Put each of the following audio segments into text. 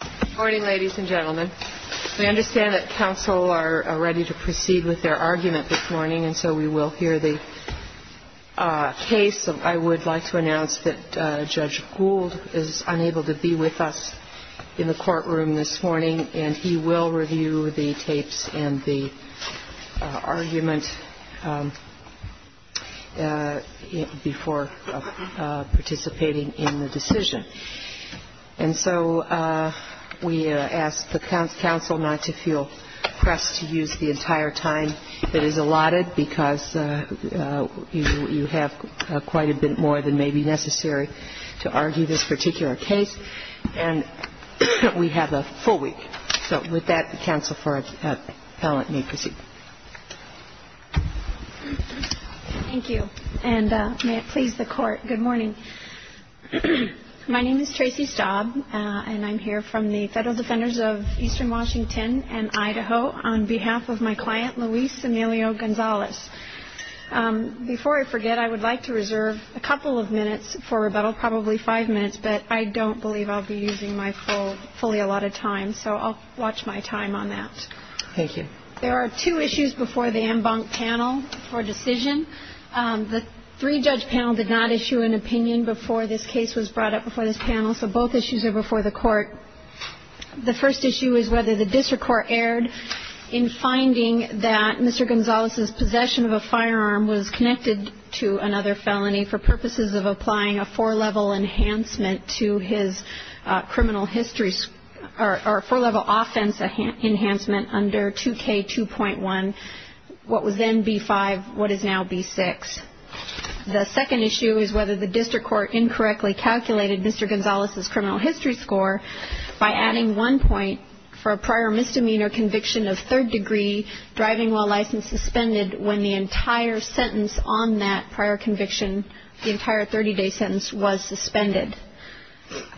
Good morning, ladies and gentlemen. We understand that counsel are ready to proceed with their argument this morning and so we will hear the case. I would like to announce that Judge Gould is unable to be with us in the courtroom this morning and he will review the tapes and the argument before participating in the decision. And so we ask the counsel not to feel pressed to use the entire time that is allotted because you have quite a bit more than may be necessary to argue this particular case. And we have a full week. So with that, the counsel for appellant may proceed. Thank you. And may it please the Court, good morning. My name is Tracy Staub and I'm here from the Federal Defenders of Eastern Washington and Idaho on behalf of my client, Luis Emilio Gonzalez. Before I forget, I would like to reserve a couple of minutes for rebuttal, probably five minutes, but I don't believe I'll be using my full, fully allotted time, so I'll watch my time on that. Thank you. There are two issues before the en banc panel for decision. The three-judge panel did not issue an opinion before this case was brought up before this panel, so both issues are before the Court. The first issue is whether the district court erred in finding that Mr. Gonzalez's possession of a firearm was connected to another felony for purposes of applying a four-level enhancement to his criminal history or a four-level offense enhancement under 2K2.1, what was then B-5, what is now B-6. The second issue is whether the district court incorrectly calculated Mr. Gonzalez's criminal history score by adding one point for a prior misdemeanor conviction of third degree, driving while licensed, suspended, when the entire sentence on that prior conviction, the entire 30-day sentence, was suspended.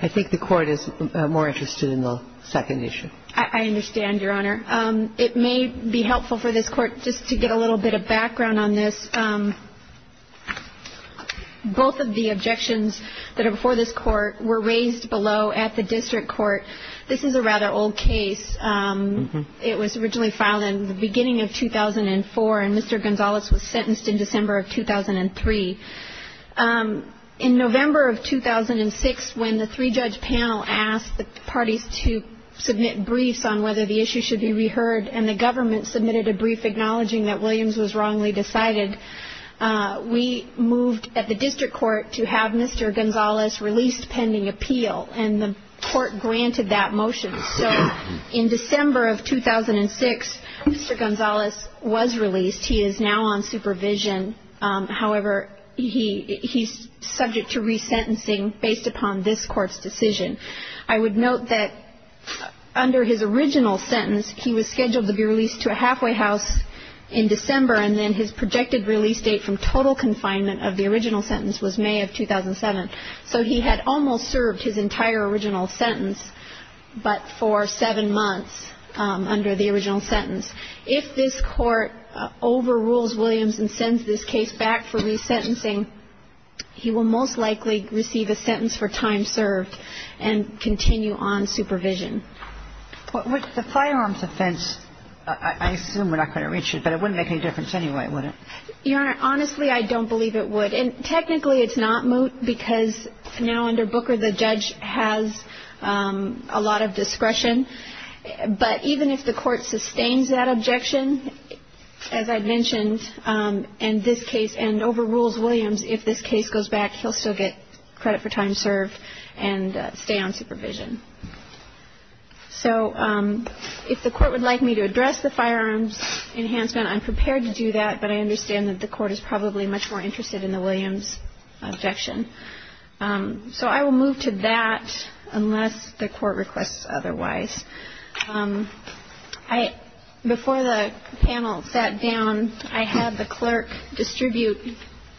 I think the Court is more interested in the second issue. I understand, Your Honor. It may be helpful for this Court just to get a little bit of background on this. Both of the objections that are before this Court were raised below at the district court. This is a rather old case. It was originally filed in the beginning of 2004, and Mr. Gonzalez was sentenced in December of 2003. In November of 2006, when the three-judge panel asked the parties to submit briefs on whether the issue should be reheard and the government submitted a brief acknowledging that Williams was wrongly decided, we moved at the district court to have Mr. Gonzalez released pending appeal, and the court granted that motion. So in December of 2006, Mr. Gonzalez was released. He is now on supervision. However, he's subject to resentencing based upon this Court's decision. I would note that under his original sentence, he was scheduled to be released to a halfway house in December, and then his projected release date from total confinement of the original sentence was May of 2007. So he had almost served his entire original sentence, but for seven months under the original sentence. If this Court overrules Williams and sends this case back for resentencing, he will most likely receive a sentence for time served and continue on supervision. But with the firearms offense, I assume we're not going to reach it, but it wouldn't make any difference anyway, would it? Your Honor, honestly, I don't believe it would. And technically, it's not moot because now under Booker, the judge has a lot of discretion. But even if the Court sustains that objection, as I mentioned, and this case, and overrules Williams, if this case goes back, he'll still get credit for time served and stay on supervision. So if the Court would like me to address the firearms enhancement, I'm prepared to do that, but I understand that the Court is probably much more interested in the Williams objection. So I will move to that unless the Court requests otherwise. Before the panel sat down, I had the clerk distribute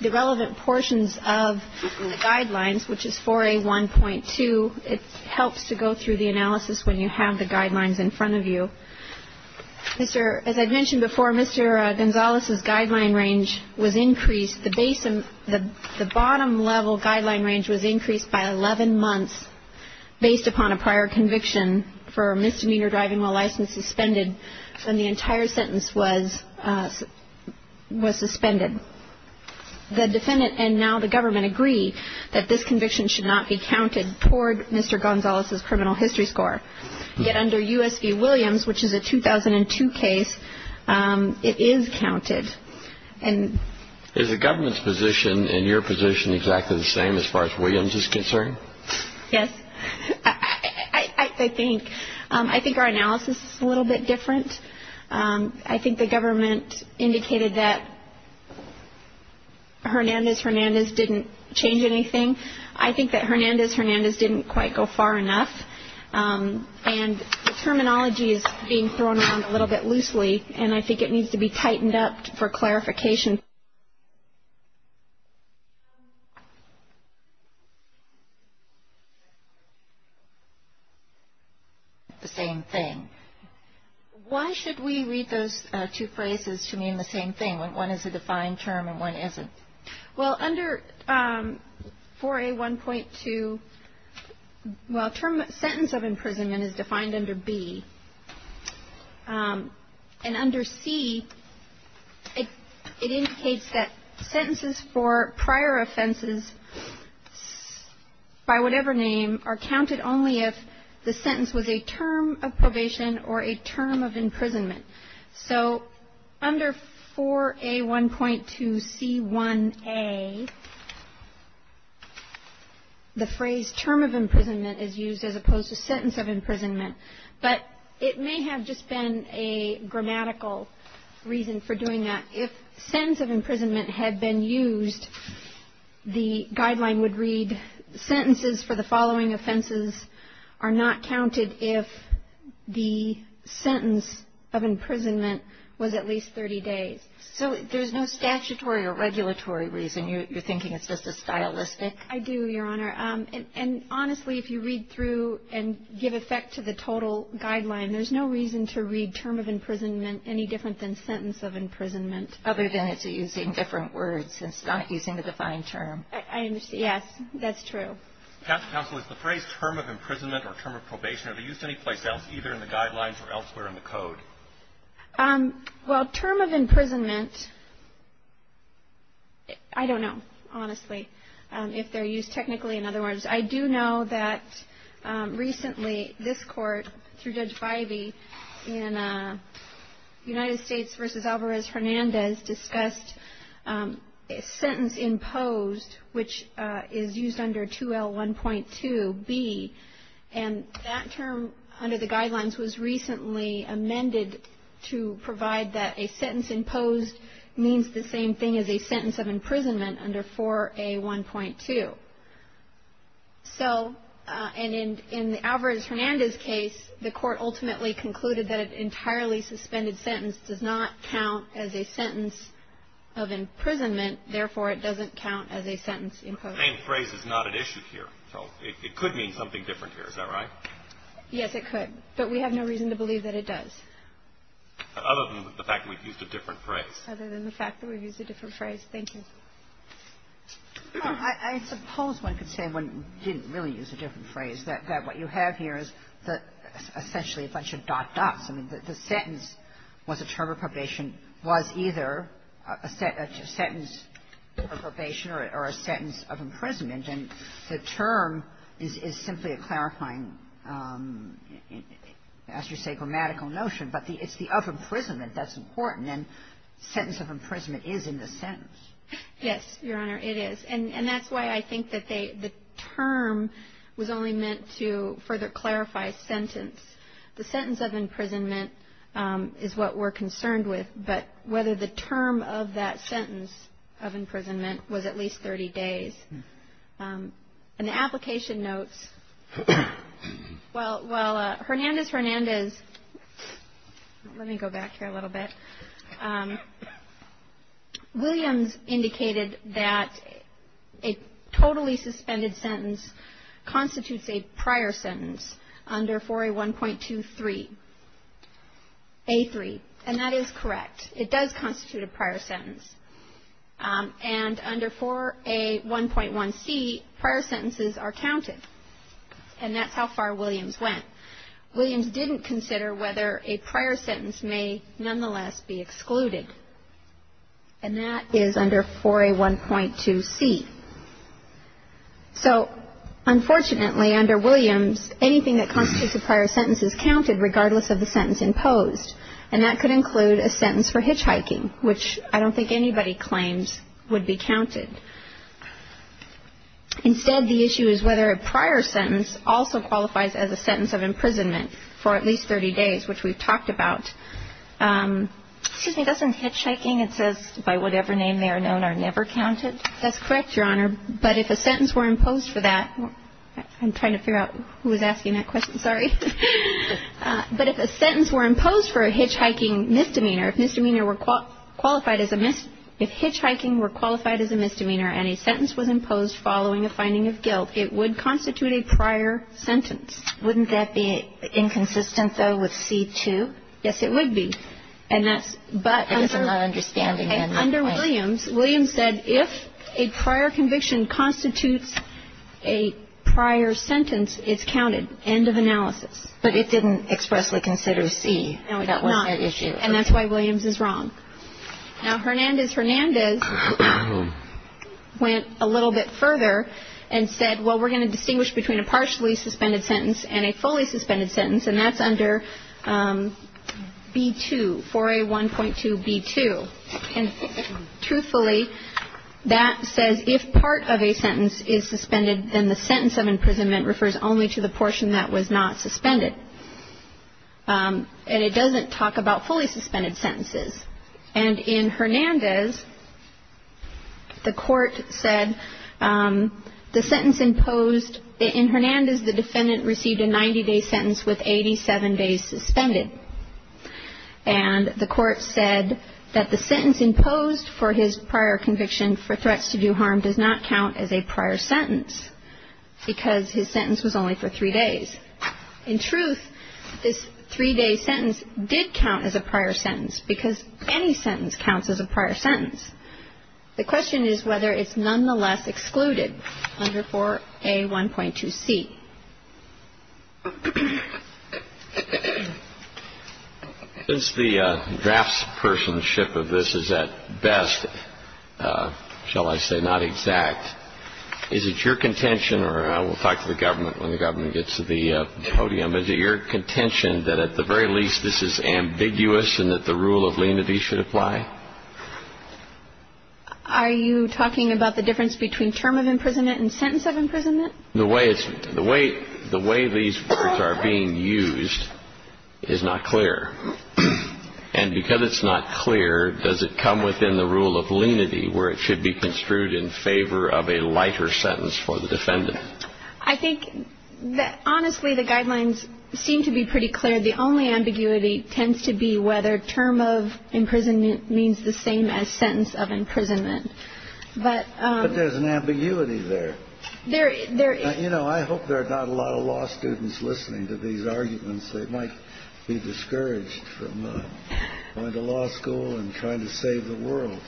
the relevant portions of the guidelines, which is 4A1.2. It helps to go through the analysis when you have the guidelines in front of you. As I mentioned before, Mr. Gonzalez's guideline range was increased. The bottom level guideline range was increased by 11 months based upon a prior conviction for misdemeanor driving while license suspended, and the entire sentence was suspended. The defendant and now the government agree that this conviction should not be counted toward Mr. Gonzalez's criminal history score. Yet under U.S. v. Williams, which is a 2002 case, it is counted. Is the government's position and your position exactly the same as far as Williams is concerned? Yes. I think our analysis is a little bit different. I think the government indicated that Hernandez-Hernandez didn't change anything. I think that Hernandez-Hernandez didn't quite go far enough, and the terminology is being thrown around a little bit loosely, and I think it needs to be tightened up for clarification. The same thing. Why should we read those two phrases to mean the same thing when one is a defined term and one isn't? Well, under 4A1.2, well, sentence of imprisonment is defined under B, and under C, it indicates that sentences for prior offenses by whatever name are counted only if the sentence was a term of probation or a term of imprisonment. So under 4A1.2C1A, the phrase term of imprisonment is used as opposed to sentence of imprisonment, but it may have just been a grammatical reason for doing that. If sentence of imprisonment had been used, the guideline would read sentences for the following offenses are not counted if the sentence of imprisonment was at least 30 days. So there's no statutory or regulatory reason. You're thinking it's just a stylistic? I do, Your Honor. And honestly, if you read through and give effect to the total guideline, there's no reason to read term of imprisonment any different than sentence of imprisonment. Other than it's using different words. It's not using the defined term. I understand. Yes, that's true. Counsel, is the phrase term of imprisonment or term of probation, are they used any place else, either in the guidelines or elsewhere in the code? Well, term of imprisonment, I don't know, honestly, if they're used technically in other words. I do know that recently this Court, through Judge Bivey, in United States v. Alvarez-Hernandez, discussed sentence imposed, which is used under 2L1.2b, and that term under the guidelines was recently amended to provide that a sentence imposed means the same thing as a sentence of imprisonment under 4A1.2. So, and in Alvarez-Hernandez's case, the Court ultimately concluded that an entirely suspended sentence does not count as a sentence of imprisonment. Therefore, it doesn't count as a sentence imposed. But the main phrase is not at issue here. So it could mean something different here. Is that right? Yes, it could. But we have no reason to believe that it does. Other than the fact that we've used a different phrase. Other than the fact that we've used a different phrase. Thank you. I suppose one could say one didn't really use a different phrase. That what you have here is essentially a bunch of dot-dots. I mean, the sentence was a term of probation was either a sentence of probation or a sentence of imprisonment. And the term is simply a clarifying, as you say, grammatical notion. But it's the of imprisonment that's important. And then sentence of imprisonment is in the sentence. Yes, Your Honor, it is. And that's why I think that the term was only meant to further clarify sentence. The sentence of imprisonment is what we're concerned with. But whether the term of that sentence of imprisonment was at least 30 days. And the application notes, well, Hernandez, Hernandez, let me go back here a little bit. Williams indicated that a totally suspended sentence constitutes a prior sentence under 4A1.23, A3. And that is correct. It does constitute a prior sentence. And under 4A1.1c, prior sentences are counted. And that's how far Williams went. Williams didn't consider whether a prior sentence may nonetheless be excluded. And that is under 4A1.2c. So, unfortunately, under Williams, anything that constitutes a prior sentence is counted regardless of the sentence imposed. And that could include a sentence for hitchhiking, which I don't think anybody claims would be counted. Instead, the issue is whether a prior sentence also qualifies as a sentence of imprisonment for at least 30 days, which we've talked about. Excuse me. Doesn't hitchhiking, it says, by whatever name they are known, are never counted? That's correct, Your Honor. But if a sentence were imposed for that, I'm trying to figure out who was asking that question. Sorry. But if a sentence were imposed for a hitchhiking misdemeanor, if misdemeanor were qualified as a misdemeanor, if hitchhiking were qualified as a misdemeanor and a sentence was imposed following a finding of guilt, it would constitute a prior sentence. Wouldn't that be inconsistent, though, with C2? Yes, it would be. And that's under Williams. Williams said if a prior conviction constitutes a prior sentence, it's counted. End of analysis. But it didn't expressly consider C. No, it did not. And that's why Williams is wrong. Now, Hernandez-Hernandez went a little bit further and said, well, we're going to distinguish between a partially suspended sentence and a fully suspended sentence, and that's under B2, 4A1.2B2. And truthfully, that says if part of a sentence is suspended, then the sentence of imprisonment refers only to the portion that was not suspended. And it doesn't talk about fully suspended sentences. And in Hernandez, the Court said the sentence imposed in Hernandez, the defendant received a 90-day sentence with 87 days suspended. And the Court said that the sentence imposed for his prior conviction for threats to do harm does not count as a prior sentence because his sentence was only for three days. In truth, this three-day sentence did count as a prior sentence because any sentence counts as a prior sentence. The question is whether it's nonetheless excluded under 4A1.2C. Since the draftspersonship of this is at best, shall I say, not exact, is it your contention, or I will talk to the government when the government gets to the podium, is it your contention that at the very least this is ambiguous and that the rule of lenity should apply? Are you talking about the difference between term of imprisonment and sentence of imprisonment? The way these words are being used is not clear. And because it's not clear, does it come within the rule of lenity where it should be construed in favor of a lighter sentence for the defendant? I think that, honestly, the guidelines seem to be pretty clear. The only ambiguity tends to be whether term of imprisonment means the same as sentence of imprisonment. But there's an ambiguity there. There is. You know, I hope there are not a lot of law students listening to these arguments. They might be discouraged from going to law school and trying to save the world.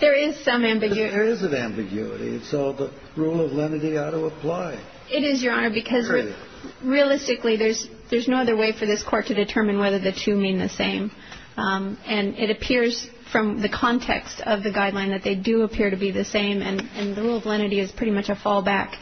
There is some ambiguity. There is an ambiguity. It's all the rule of lenity ought to apply. It is, Your Honor, because realistically, there's no other way for this Court to determine whether the two mean the same. And it appears from the context of the guideline that they do appear to be the same. And the rule of lenity is pretty much a fallback.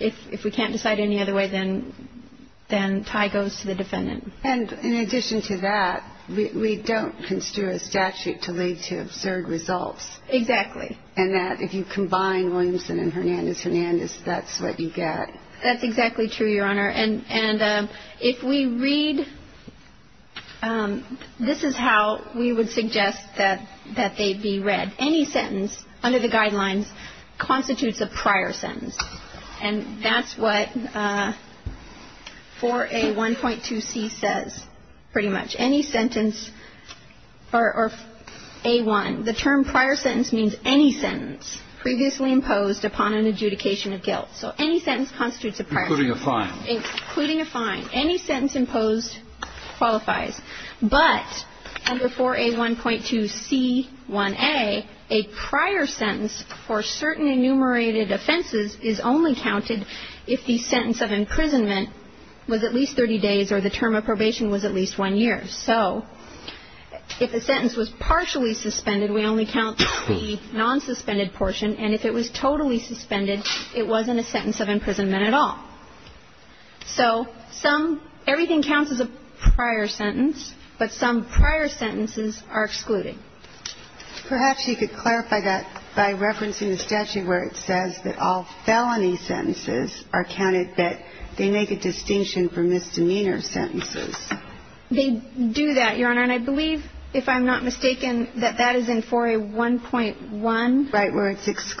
If we can't decide any other way, then tie goes to the defendant. And in addition to that, we don't construe a statute to lead to absurd results. Exactly. And that if you combine Williamson and Hernandez-Hernandez, that's what you get. That's exactly true, Your Honor. And if we read, this is how we would suggest that they be read. Any sentence under the guidelines constitutes a prior sentence. And that's what 4A1.2c says, pretty much. Any sentence or A1. The term prior sentence means any sentence previously imposed upon an adjudication of guilt. So any sentence constitutes a prior sentence. Including a fine. Including a fine. Any sentence imposed qualifies. But under 4A1.2c1a, a prior sentence for certain enumerated offenses is only counted if the sentence of imprisonment was at least 30 days or the term of probation was at least one year. So if a sentence was partially suspended, we only count the nonsuspended portion. And if it was totally suspended, it wasn't a sentence of imprisonment at all. So some, everything counts as a prior sentence. But some prior sentences are excluded. Perhaps you could clarify that by referencing the statute where it says that all felony sentences are counted, that they make a distinction for misdemeanor sentences. They do that, Your Honor. And I believe, if I'm not mistaken, that that is in 4A1.1. Right, where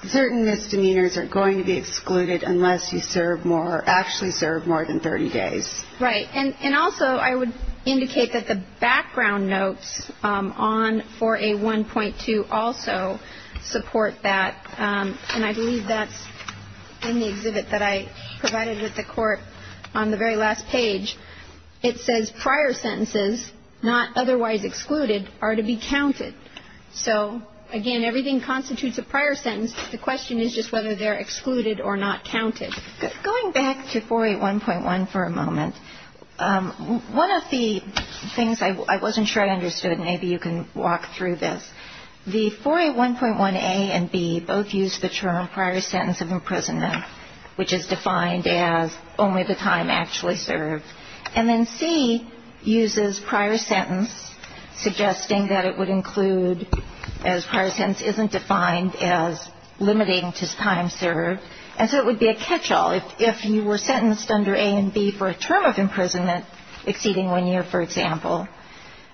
certain misdemeanors are going to be excluded unless you serve more, actually serve more than 30 days. Right. And also I would indicate that the background notes on 4A1.2 also support that. And I believe that's in the exhibit that I provided with the Court on the very last page. It says prior sentences, not otherwise excluded, are to be counted. So, again, everything constitutes a prior sentence. The question is just whether they're excluded or not counted. Going back to 4A1.1 for a moment, one of the things I wasn't sure I understood, and maybe you can walk through this. The 4A1.1a and b both use the term prior sentence of imprisonment, which is defined as only the time actually served. And then c uses prior sentence, suggesting that it would include, as prior sentence isn't defined as limiting to time served, and so it would be a catch-all. If you were sentenced under a and b for a term of imprisonment exceeding one year, for example,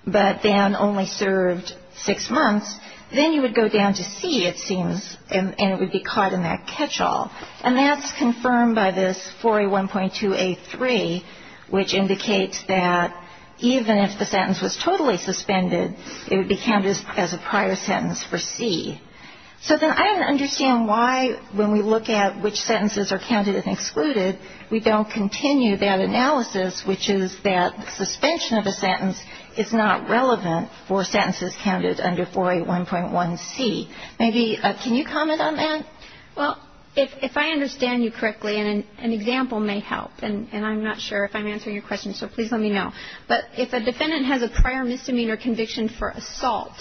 but then only served six months, then you would go down to c, it seems, and it would be caught in that catch-all. And that's confirmed by this 4A1.2a3, which indicates that even if the sentence was totally suspended, it would be counted as a prior sentence for c. So then I don't understand why, when we look at which sentences are counted and excluded, we don't continue that analysis, which is that suspension of a sentence is not relevant for sentences counted under 4A1.1c. Maybe, can you comment on that? Well, if I understand you correctly, and an example may help, and I'm not sure if I'm answering your question, so please let me know. But if a defendant has a prior misdemeanor conviction for assault,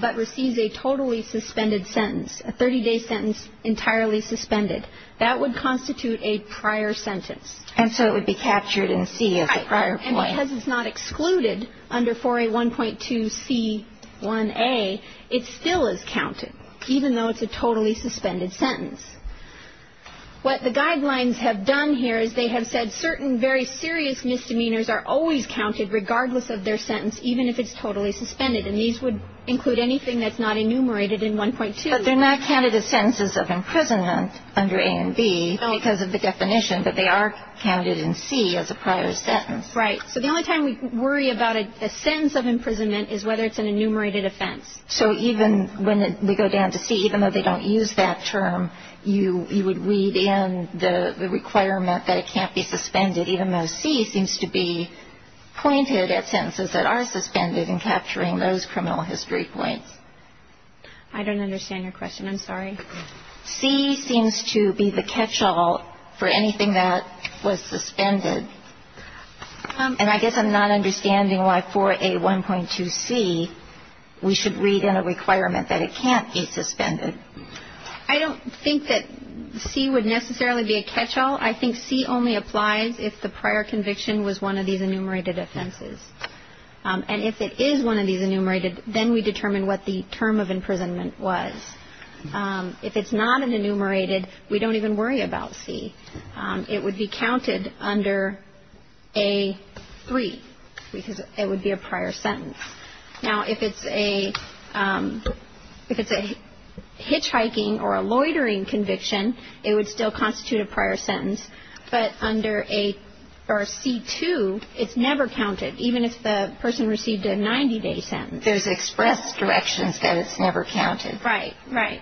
but receives a totally suspended sentence, a 30-day sentence entirely suspended, that would constitute a prior sentence. And so it would be captured in c as a prior point. Right. And because it's not excluded under 4A1.2c1a, it still is counted, even though it's a totally suspended sentence. What the guidelines have done here is they have said certain very serious misdemeanors are always counted regardless of their sentence, even if it's totally suspended. And these would include anything that's not enumerated in 1.2. But they're not counted as sentences of imprisonment under a and b because of the definition, but they are counted in c as a prior sentence. Right. So the only time we worry about a sentence of imprisonment is whether it's an enumerated offense. So even when we go down to c, even though they don't use that term, you would read in the requirement that it can't be suspended, even though c seems to be pointed at sentences that are suspended and capturing those criminal history points. I don't understand your question. I'm sorry. C seems to be the catch-all for anything that was suspended. And I guess I'm not understanding why for a 1.2c, we should read in a requirement that it can't be suspended. I don't think that c would necessarily be a catch-all. I think c only applies if the prior conviction was one of these enumerated offenses. And if it is one of these enumerated, then we determine what the term of imprisonment was. If it's not an enumerated, we don't even worry about c. It would be counted under a 3, because it would be a prior sentence. Now, if it's a hitchhiking or a loitering conviction, it would still constitute a prior sentence. But under c2, it's never counted, even if the person received a 90-day sentence. There's express directions that it's never counted. Right, right.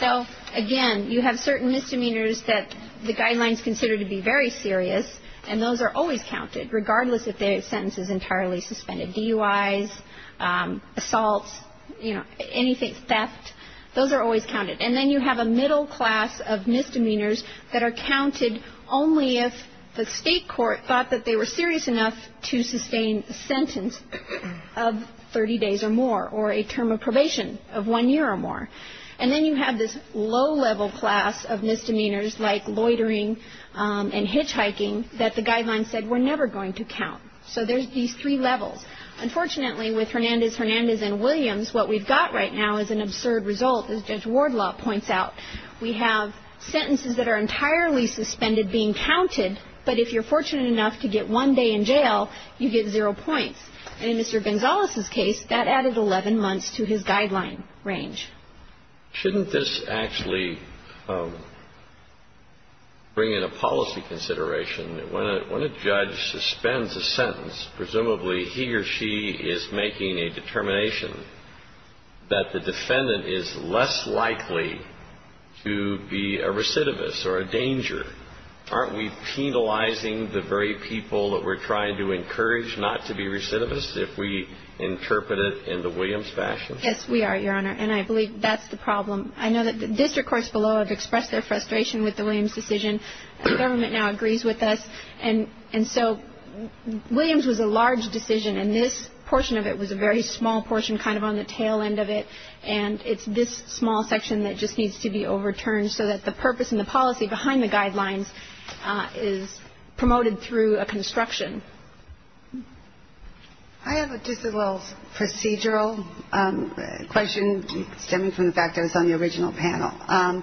So, again, you have certain misdemeanors that the guidelines consider to be very serious, and those are always counted, regardless if their sentence is entirely suspended. DUIs, assaults, you know, anything, theft, those are always counted. And then you have a middle class of misdemeanors that are counted only if the state court thought that they were serious enough to sustain a sentence of 30 days or more, or a term of probation of one year or more. And then you have this low-level class of misdemeanors, like loitering and hitchhiking, that the guidelines said were never going to count. So there's these three levels. Unfortunately, with Hernandez, Hernandez, and Williams, what we've got right now is an absurd result, as Judge Wardlaw points out. We have sentences that are entirely suspended being counted, but if you're fortunate enough to get one day in jail, you get zero points. And in Mr. Gonzalez's case, that added 11 months to his guideline range. Shouldn't this actually bring in a policy consideration? When a judge suspends a sentence, presumably he or she is making a determination that the defendant is less likely to be a recidivist or a danger. Aren't we penalizing the very people that we're trying to encourage not to be recidivists if we interpret it in the Williams fashion? Yes, we are, Your Honor, and I believe that's the problem. I know that the district courts below have expressed their frustration with the Williams decision. The government now agrees with us. And so Williams was a large decision, and this portion of it was a very small portion kind of on the tail end of it, and it's this small section that just needs to be overturned so that the purpose and the policy behind the guidelines is promoted through a construction. I have just a little procedural question stemming from the fact I was on the original panel.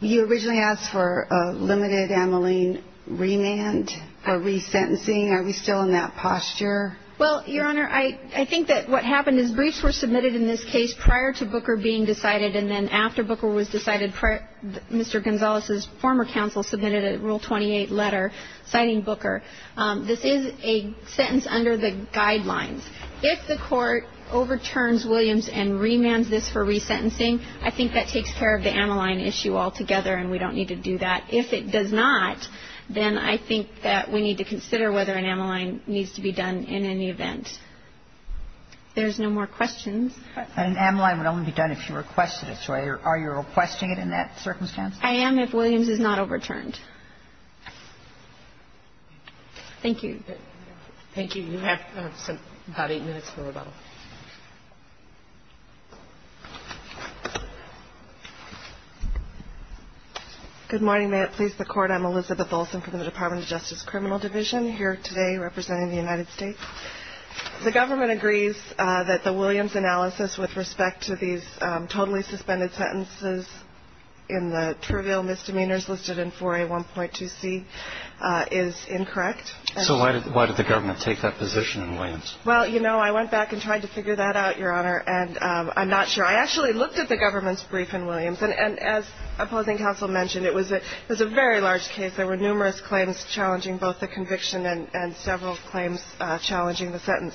You originally asked for a limited amyline remand for resentencing. Are we still in that posture? Well, Your Honor, I think that what happened is briefs were submitted in this case prior to Booker being decided and then after Booker was decided, Mr. Gonzalez's former counsel submitted a Rule 28 letter citing Booker. This is a sentence under the guidelines. If the court overturns Williams and remands this for resentencing, I think that takes care of the amyline issue altogether, and we don't need to do that. If it does not, then I think that we need to consider whether an amyline needs to be done in any event. If there's no more questions. An amyline would only be done if you requested it. So are you requesting it in that circumstance? I am if Williams is not overturned. Thank you. Thank you. You have about eight minutes for rebuttal. Good morning. May it please the Court. I'm Elizabeth Olsen from the Department of Justice Criminal Division here today representing the United States. The government agrees that the Williams analysis with respect to these totally suspended sentences in the trivial misdemeanors listed in 4A1.2C is incorrect. So why did the government take that position in Williams? Well, you know, I went back and tried to figure that out, Your Honor, and I'm not sure. I actually looked at the government's brief in Williams, and as opposing counsel mentioned, it was a very large case. There were numerous claims challenging both the conviction and several claims challenging the sentence.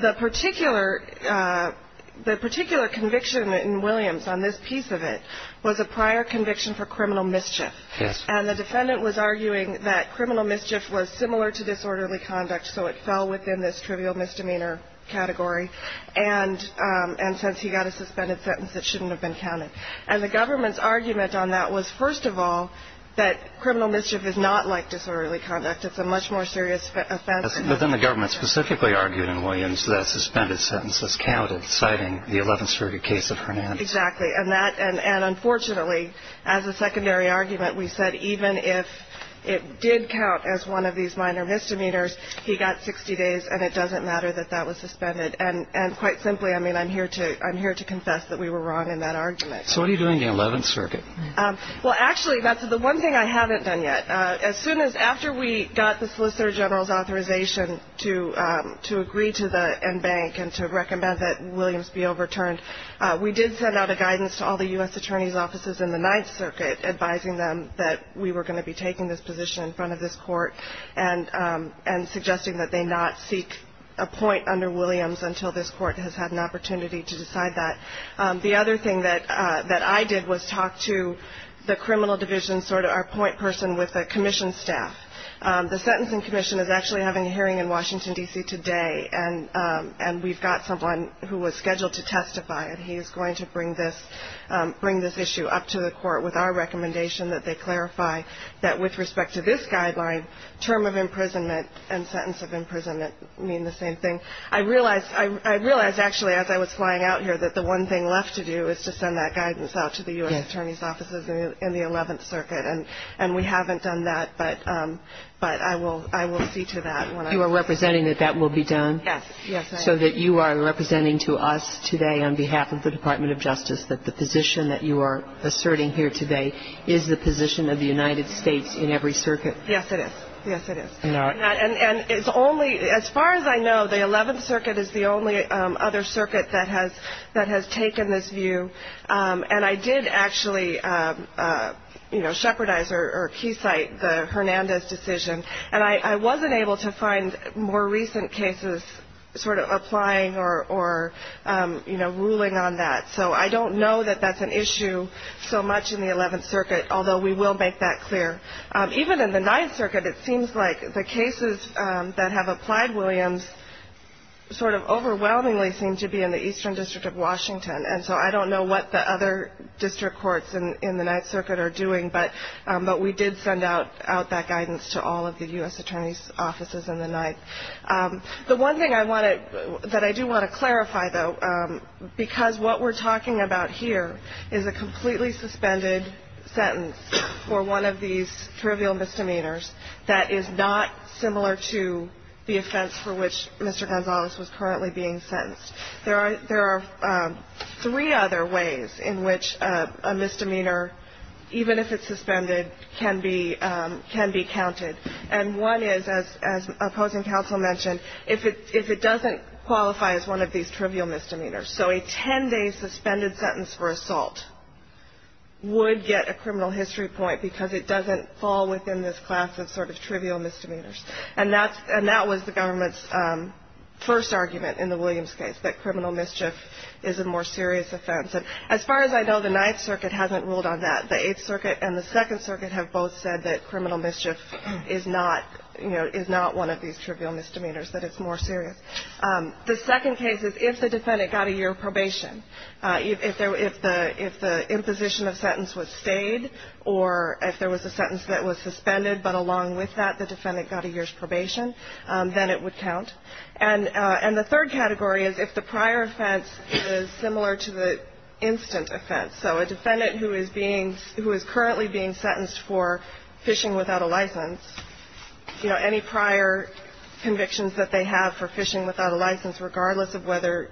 The particular conviction in Williams on this piece of it was a prior conviction for criminal mischief. Yes. And the defendant was arguing that criminal mischief was similar to disorderly conduct, so it fell within this trivial misdemeanor category, and since he got a suspended sentence, it shouldn't have been counted. And the government's argument on that was, first of all, that criminal mischief is not like disorderly conduct. It's a much more serious offense. But then the government specifically argued in Williams that suspended sentences counted, citing the 11th Circuit case of Hernandez. Exactly. And that – and unfortunately, as a secondary argument, we said even if it did count as one of these minor misdemeanors, he got 60 days, and it doesn't matter that that was suspended. And quite simply, I mean, I'm here to confess that we were wrong in that argument. So what are you doing in the 11th Circuit? Well, actually, that's the one thing I haven't done yet. As soon as – after we got the Solicitor General's authorization to agree to the en banc and to recommend that Williams be overturned, we did send out a guidance to all the U.S. Attorney's offices in the 9th Circuit, advising them that we were going to be taking this position in front of this court and suggesting that they not seek a point under Williams until this court has had an opportunity to decide that. The other thing that I did was talk to the criminal division, sort of our point person with the commission staff. The Sentencing Commission is actually having a hearing in Washington, D.C., today, and we've got someone who was scheduled to testify, and he is going to bring this issue up to the court with our recommendation that they clarify that, with respect to this guideline, term of imprisonment and sentence of imprisonment mean the same thing. I realized, actually, as I was flying out here, that the one thing left to do is to send that guidance out to the U.S. Attorney's offices in the 11th Circuit, and we haven't done that, but I will see to that. You are representing that that will be done? Yes. So that you are representing to us today on behalf of the Department of Justice that the position that you are asserting here today is the position of the United States in every circuit? Yes, it is. Yes, it is. And it's only, as far as I know, the 11th Circuit is the only other circuit that has taken this view, and I did actually, you know, shepherdize or keysight the Hernandez decision, and I wasn't able to find more recent cases sort of applying or, you know, ruling on that. So I don't know that that's an issue so much in the 11th Circuit, although we will make that clear. Even in the 9th Circuit, it seems like the cases that have applied, Williams, sort of overwhelmingly seem to be in the Eastern District of Washington, and so I don't know what the other district courts in the 9th Circuit are doing, but we did send out that guidance to all of the U.S. Attorney's offices in the 9th. The one thing that I do want to clarify, though, because what we're talking about here is a completely suspended sentence for one of these trivial misdemeanors that is not similar to the offense for which Mr. Gonzalez was currently being sentenced. There are three other ways in which a misdemeanor, even if it's suspended, can be counted, and one is, as opposing counsel mentioned, if it doesn't qualify as one of these trivial misdemeanors. So a 10-day suspended sentence for assault would get a criminal history point because it doesn't fall within this class of sort of trivial misdemeanors, and that was the government's first argument in the Williams case, that criminal mischief is a more serious offense. And as far as I know, the 9th Circuit hasn't ruled on that. The 8th Circuit and the 2nd Circuit have both said that criminal mischief is not one of these trivial misdemeanors, that it's more serious. The second case is if the defendant got a year of probation. If the imposition of sentence was stayed or if there was a sentence that was suspended, but along with that the defendant got a year's probation, then it would count. And the third category is if the prior offense is similar to the instant offense. So a defendant who is being, who is currently being sentenced for phishing without a license, you know, any prior convictions that they have for phishing without a license, regardless of whether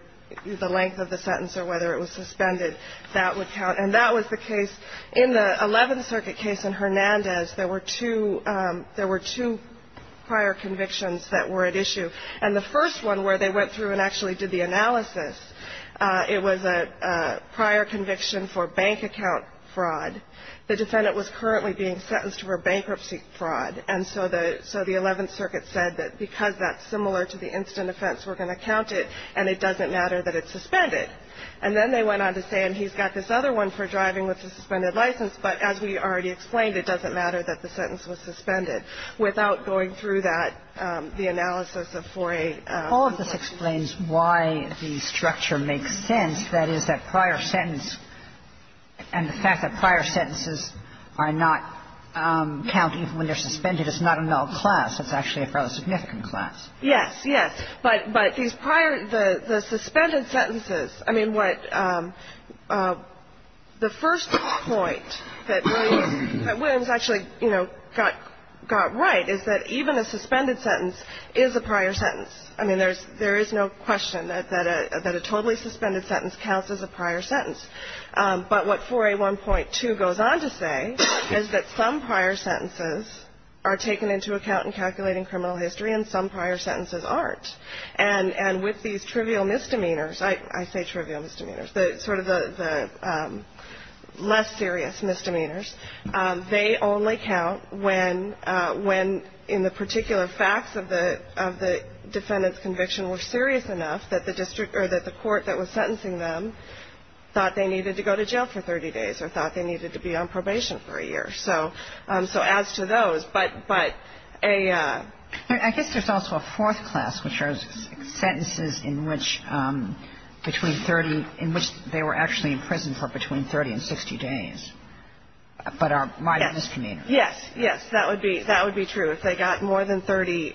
the length of the sentence or whether it was suspended, that would count. And that was the case in the 11th Circuit case in Hernandez. There were two, there were two prior convictions that were at issue. And the first one where they went through and actually did the analysis, it was a prior conviction for bank account fraud. The defendant was currently being sentenced for bankruptcy fraud. And so the 11th Circuit said that because that's similar to the instant offense, we're going to count it, and it doesn't matter that it's suspended. And then they went on to say, and he's got this other one for driving with a suspended license, but as we already explained, it doesn't matter that the sentence was suspended. Without going through that, the analysis of 4A. All of this explains why the structure makes sense, that is, that prior sentence and the fact that prior sentences are not counted even when they're suspended is not a null class. It's actually a rather significant class. Yes, yes. But these prior, the suspended sentences, I mean, what the first point that Williams actually, you know, got right is that even a suspended sentence is a prior sentence. I mean, there is no question that a totally suspended sentence counts as a prior sentence. But what 4A.1.2 goes on to say is that some prior sentences are taken into account in calculating criminal history and some prior sentences aren't. And with these trivial misdemeanors, I say trivial misdemeanors, sort of the less serious misdemeanors, they only count when in the particular facts of the defendant's conviction were serious enough that the court that was sentencing them thought they needed to go to jail for 30 days or thought they needed to be on probation for a year. So as to those, but a ‑‑ I guess there's also a fourth class, which are sentences in which between 30, in which they were actually in prison for between 30 and 60 days, but are minor misdemeanors. Yes, yes. That would be true. If they got more than 30,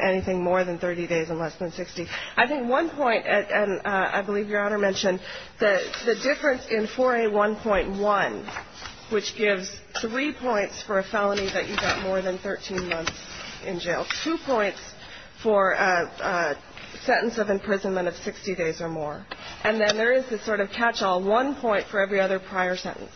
anything more than 30 days and less than 60. I think one point, and I believe Your Honor mentioned, the difference in 4A.1.1, which gives three points for a felony that you got more than 13 months in jail, two points for a sentence of imprisonment of 60 days or more. And then there is this sort of catch‑all, one point for every other prior sentence.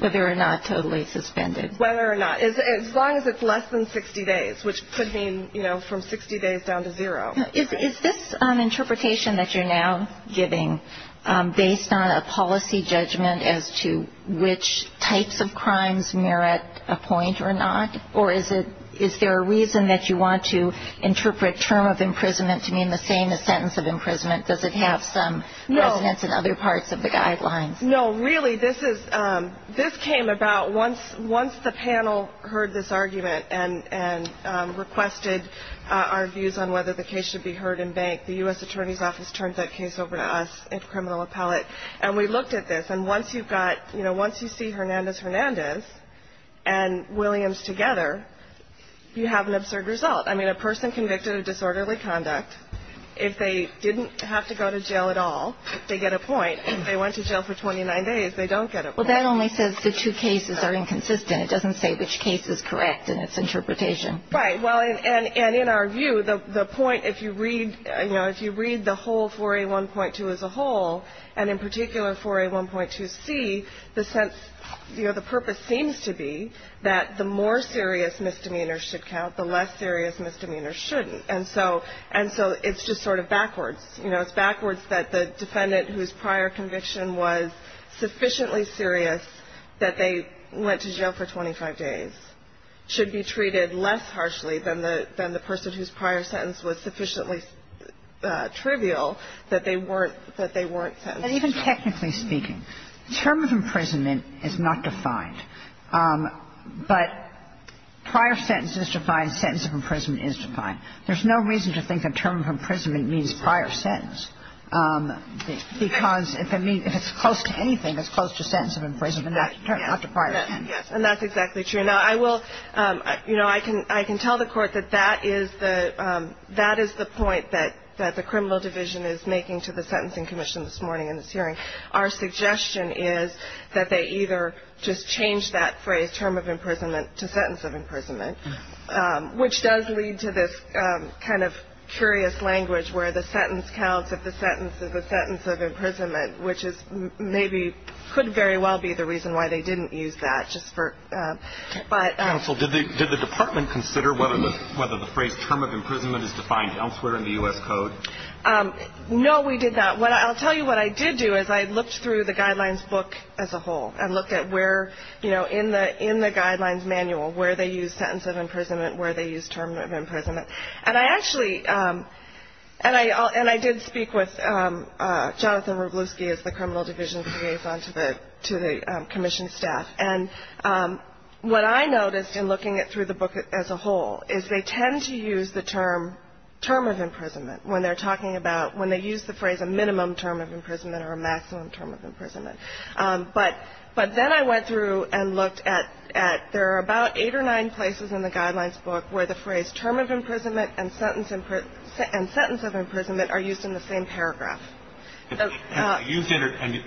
Whether or not totally suspended. Whether or not. As long as it's less than 60 days, which could mean, you know, from 60 days down to zero. Is this an interpretation that you're now giving based on a policy judgment as to which types of crimes merit a point or not? Or is there a reason that you want to interpret term of imprisonment to mean the same as sentence of imprisonment? Does it have some precedence in other parts of the guidelines? No, really, this came about once the panel heard this argument and requested our views on whether the case should be heard in bank. The U.S. Attorney's Office turned that case over to us at Criminal Appellate. And we looked at this. And once you've got, you know, once you see Hernandez-Hernandez and Williams together, you have an absurd result. I mean, a person convicted of disorderly conduct, if they didn't have to go to jail at all, they get a point. If they went to jail for 29 days, they don't get a point. Well, that only says the two cases are inconsistent. It doesn't say which case is correct in its interpretation. Right. Well, and in our view, the point, if you read, you know, if you read the whole 4A1.2 as a whole, and in particular 4A1.2c, the sense, you know, the purpose seems to be that the more serious misdemeanors should count, the less serious misdemeanors shouldn't. And so it's just sort of backwards. You know, it's backwards that the defendant whose prior conviction was sufficiently serious that they went to jail for 25 days should be treated less harshly than the person whose prior sentence was sufficiently trivial that they weren't sentenced. And even technically speaking, term of imprisonment is not defined. But prior sentence is defined. Sentence of imprisonment is defined. There's no reason to think a term of imprisonment means prior sentence, because if it means, close to anything, it's close to sentence of imprisonment, not to prior sentence. Yes. And that's exactly true. Now, I will, you know, I can tell the Court that that is the point that the criminal division is making to the Sentencing Commission this morning in this hearing. Our suggestion is that they either just change that phrase, term of imprisonment, to sentence of imprisonment, which does lead to this kind of curious language where the sentence counts if the sentence is a sentence of imprisonment, which maybe could very well be the reason why they didn't use that. Counsel, did the department consider whether the phrase term of imprisonment is defined elsewhere in the U.S. Code? No, we did not. I'll tell you what I did do is I looked through the Guidelines book as a whole and looked at where, you know, in the Guidelines manual, where they use sentence of imprisonment, where they use term of imprisonment. And I actually, and I did speak with Jonathan Wroblewski as the criminal division liaison to the commission staff. And what I noticed in looking through the book as a whole is they tend to use the term term of imprisonment when they're talking about when they use the phrase a minimum term of imprisonment or a maximum term of imprisonment. But then I went through and looked at there are about eight or nine places in the Guidelines book where the phrase term of imprisonment and sentence of imprisonment are used in the same paragraph. And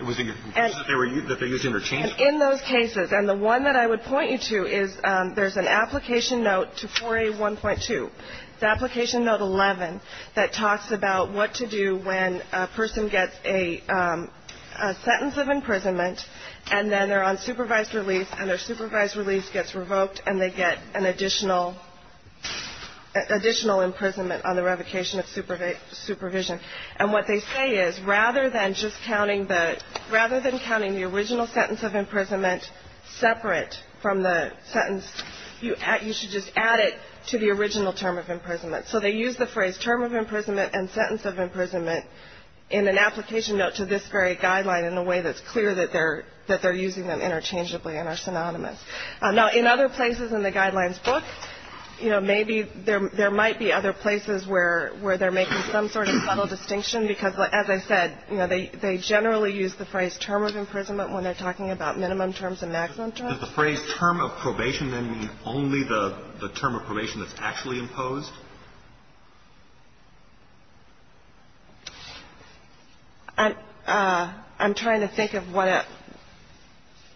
were they used interchangeably? In those cases. And the one that I would point you to is there's an application note to 4A1.2. It's application note 11 that talks about what to do when a person gets a sentence of imprisonment and then they're on supervised release and their supervised release gets revoked and they get an additional imprisonment on the revocation of supervision. And what they say is rather than just counting the, rather than counting the original sentence of imprisonment separate from the sentence, you should just add it to the original term of imprisonment. So they use the phrase term of imprisonment and sentence of imprisonment in an application note to this very Guideline in a way that's clear that they're using them interchangeably and are synonymous. Now, in other places in the Guidelines book, you know, maybe there might be other places where they're making some sort of subtle distinction because, as I said, you know, they generally use the phrase term of imprisonment when they're talking about minimum terms and maximum terms. Does the phrase term of probation then mean only the term of probation that's actually imposed? I'm trying to think of what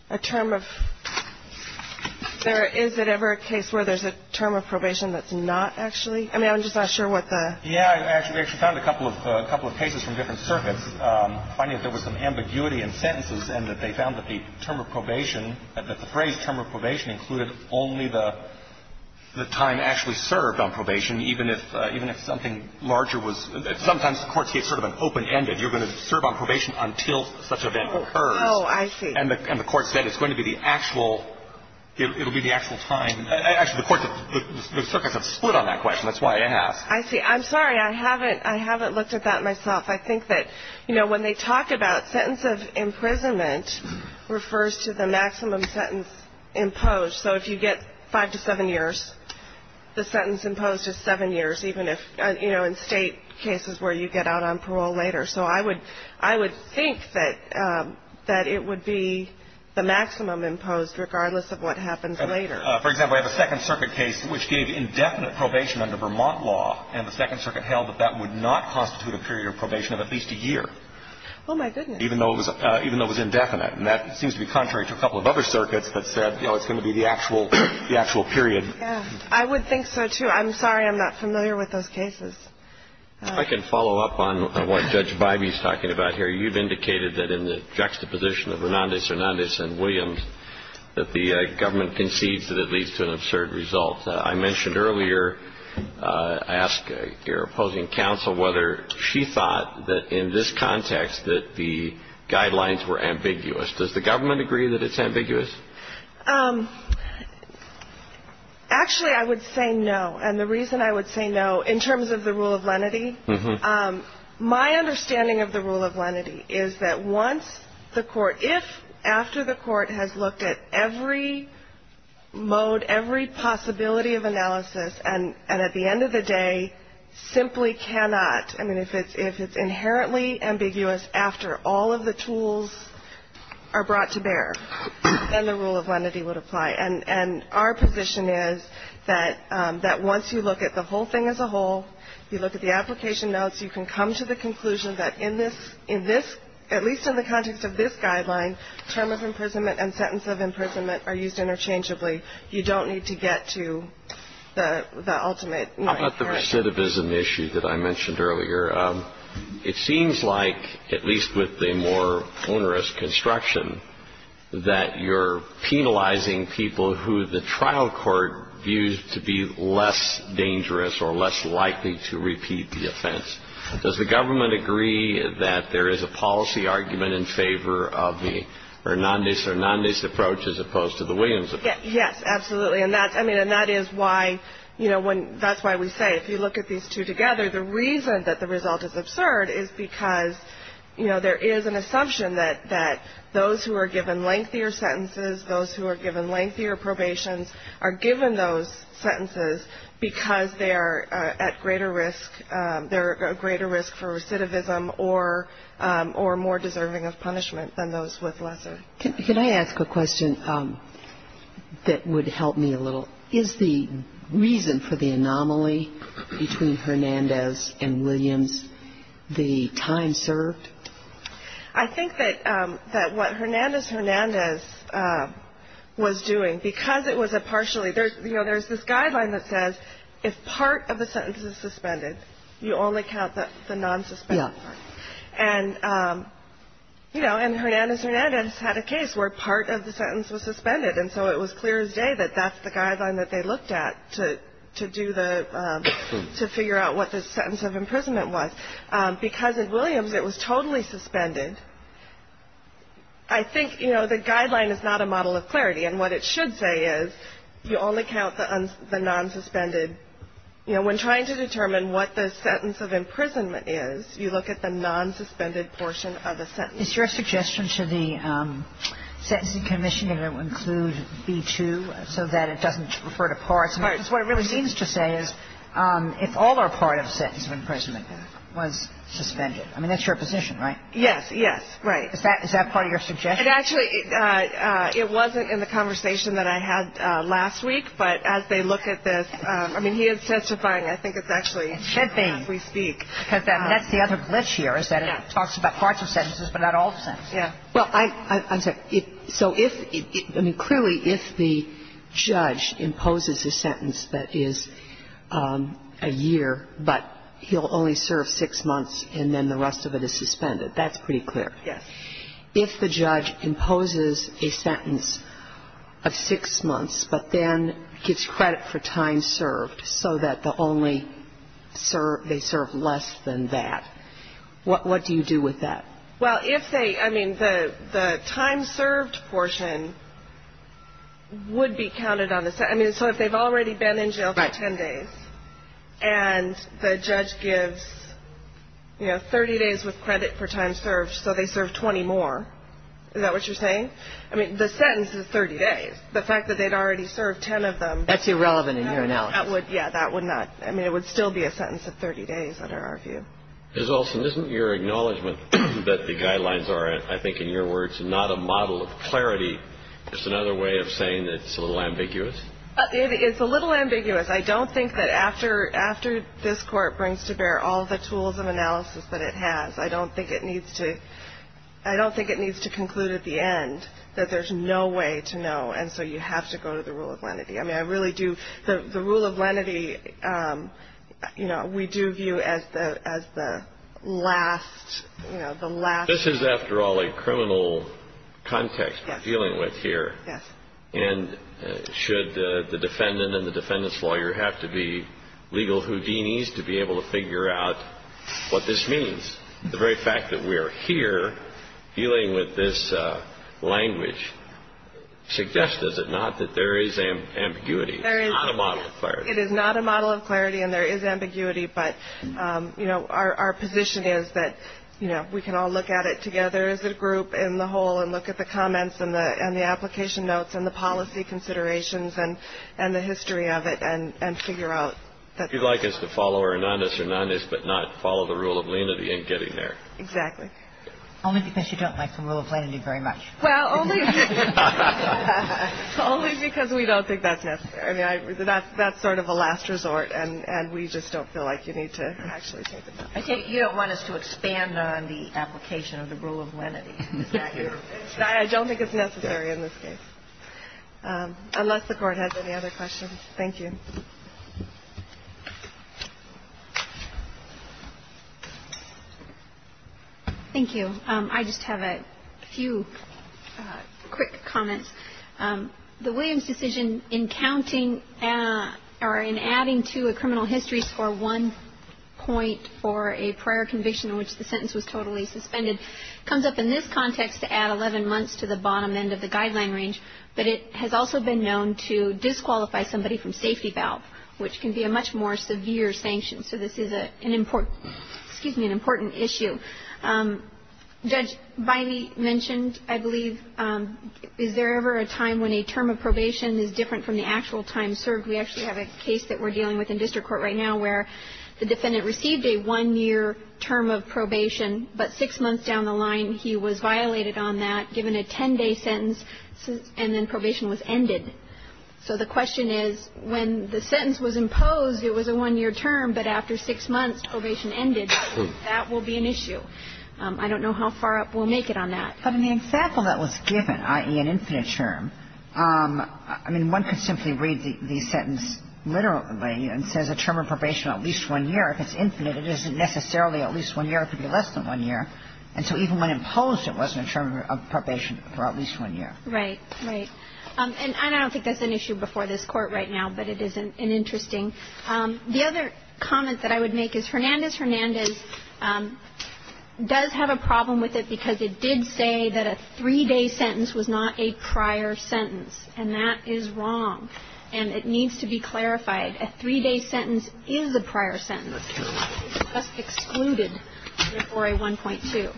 a term of ‑‑ is there ever a case where there's a term of probation that's not actually? I mean, I'm just not sure what the ‑‑ Yeah. I actually found a couple of cases from different circuits finding that there was some ambiguity in sentences and that they found that the term of probation, that the phrase term of probation included only the time actually served on probation even if something larger was ‑‑ sometimes courts get sort of an open‑ended. You're going to serve on probation until such an event occurs. Oh, I see. And the court said it's going to be the actual ‑‑ it'll be the actual time. Actually, the circuits have split on that question. That's why I asked. I see. I'm sorry. I haven't looked at that myself. I think that, you know, when they talk about sentence of imprisonment refers to the maximum sentence imposed. So if you get five to seven years, the sentence imposed is seven years even if, you know, in state cases where you get out on parole later. So I would think that it would be the maximum imposed regardless of what happens later. For example, I have a Second Circuit case which gave indefinite probation under Vermont law, and the Second Circuit held that that would not constitute a period of probation of at least a year. Oh, my goodness. Even though it was indefinite. And that seems to be contrary to a couple of other circuits that said, you know, it's going to be the actual period. Yeah. I would think so, too. I'm sorry I'm not familiar with those cases. I can follow up on what Judge Bybee is talking about here. You've indicated that in the juxtaposition of Hernandez, Hernandez, and Williams, that the government concedes that it leads to an absurd result. I mentioned earlier, I asked your opposing counsel whether she thought that in this context that the guidelines were ambiguous. Does the government agree that it's ambiguous? Actually, I would say no. And the reason I would say no, in terms of the rule of lenity, my understanding of the rule of lenity is that once the court, if after the court has looked at every mode, every possibility of analysis, and at the end of the day simply cannot, I mean, if it's inherently ambiguous after all of the tools are brought to bear, then the rule of lenity would apply. And our position is that once you look at the whole thing as a whole, you look at the application notes, you can come to the conclusion that in this, at least in the context of this guideline, term of imprisonment and sentence of imprisonment are used interchangeably. You don't need to get to the ultimate. How about the recidivism issue that I mentioned earlier? It seems like, at least with the more onerous construction, that you're penalizing people who the trial court views to be less dangerous or less likely to repeat the offense. Does the government agree that there is a policy argument in favor of the Hernandez-Hernandez approach as opposed to the Williams approach? Yes, absolutely. And that's, I mean, and that is why, you know, that's why we say if you look at these two together, the reason that the result is absurd is because, you know, there is an assumption that those who are given lengthier sentences, those who are given lengthier probations are given those sentences because they are at greater risk, they're at greater risk for recidivism or more deserving of punishment than those with lesser. Can I ask a question that would help me a little? Is the reason for the anomaly between Hernandez and Williams the time served? I think that what Hernandez-Hernandez was doing, because it was a partially, you know, there's this guideline that says if part of the sentence is suspended, you only count the non-suspended part. Yeah. And, you know, and Hernandez-Hernandez had a case where part of the sentence was suspended, and so it was clear as day that that's the guideline that they looked at to do the, to figure out what the sentence of imprisonment was. Because at Williams it was totally suspended. I think, you know, the guideline is not a model of clarity, and what it should say is you only count the non-suspended. You know, when trying to determine what the sentence of imprisonment is, you look at the non-suspended portion of the sentence. Is your suggestion to the Sentencing Commission that it will include B-2 so that it doesn't refer to parts? Because what it really seems to say is if all or part of the sentence of imprisonment was suspended. I mean, that's your position, right? Yes, yes, right. Is that part of your suggestion? It actually, it wasn't in the conversation that I had last week, but as they look at this, I mean, he is testifying. I think it's actually as we speak. Because that's the other glitch here is that it talks about parts of sentences but not all the sentences. Yeah. Well, I'm sorry. So if, I mean, clearly if the judge imposes a sentence that is a year but he'll only serve six months and then the rest of it is suspended, that's pretty clear. Yes. If the judge imposes a sentence of six months but then gives credit for time served so that the only serve, they serve less than that, what do you do with that? Well, if they, I mean, the time served portion would be counted on the, I mean, so if they've already been in jail for ten days and the judge gives, you know, 30 days with credit for time served so they serve 20 more, is that what you're saying? I mean, the sentence is 30 days. The fact that they'd already served ten of them. That's irrelevant in your analysis. Yeah, that would not. I mean, it would still be a sentence of 30 days under our view. Ms. Olson, isn't your acknowledgment that the guidelines are, I think in your words, not a model of clarity, just another way of saying that it's a little ambiguous? It's a little ambiguous. I don't think that after this Court brings to bear all the tools of analysis that it has, I don't think it needs to conclude at the end that there's no way to know, and so you have to go to the rule of lenity. I mean, I really do. The rule of lenity, you know, we do view as the last, you know, the last. This is, after all, a criminal context we're dealing with here. Yes. And should the defendant and the defendant's lawyer have to be legal Houdinis to be able to figure out what this means? The very fact that we are here dealing with this language suggests, does it not, that there is ambiguity? There is. It's not a model of clarity. It is not a model of clarity and there is ambiguity, but, you know, our position is that, you know, we can all look at it together as a group in the whole and look at the comments and the application notes and the policy considerations and the history of it and figure out. If you'd like us to follow Hernandez-Hernandez but not follow the rule of lenity in getting there. Exactly. Only because you don't like the rule of lenity very much. Well, only because we don't think that's necessary. I mean, that's sort of a last resort and we just don't feel like you need to actually take it. I think you don't want us to expand on the application of the rule of lenity. I don't think it's necessary in this case. Unless the Court has any other questions. Thank you. Thank you. I just have a few quick comments. The Williams decision in counting or in adding to a criminal history score one point for a prior conviction in which the sentence was totally suspended comes up in this context to add 11 months to the bottom end of the guideline range, but it has also been known to disqualify somebody from safety valve, which can be a much more severe sanction. So this is an important, excuse me, an important issue. Judge Biney mentioned, I believe, is there ever a time when a term of probation is different from the actual time served? We actually have a case that we're dealing with in district court right now where the defendant received a one-year term of probation, but six months down the line he was violated on that, given a 10-day sentence, and then probation was ended. So the question is, when the sentence was imposed, it was a one-year term, but after six months probation ended, that will be an issue. I don't know how far up we'll make it on that. But in the example that was given, i.e., an infinite term, I mean, one could simply read the sentence literally and it says a term of probation at least one year. If it's infinite, it isn't necessarily at least one year. It could be less than one year. And so even when imposed, it wasn't a term of probation for at least one year. Right. Right. And I don't think that's an issue before this Court right now, but it is an interesting. The other comment that I would make is Hernandez-Hernandez does have a problem with it because it did say that a three-day sentence was not a prior sentence, and that is wrong. And it needs to be clarified. A three-day sentence is a prior sentence. It's just excluded before a 1.2.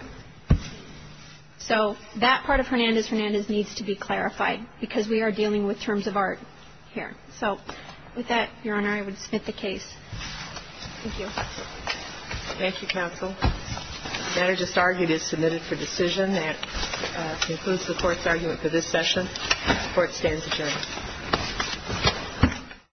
So that part of Hernandez-Hernandez needs to be clarified because we are dealing with terms of art here. So with that, Your Honor, I would submit the case. Thank you. Thank you, counsel. The matter just argued is submitted for decision. That concludes the Court's argument for this session. The Court stands adjourned.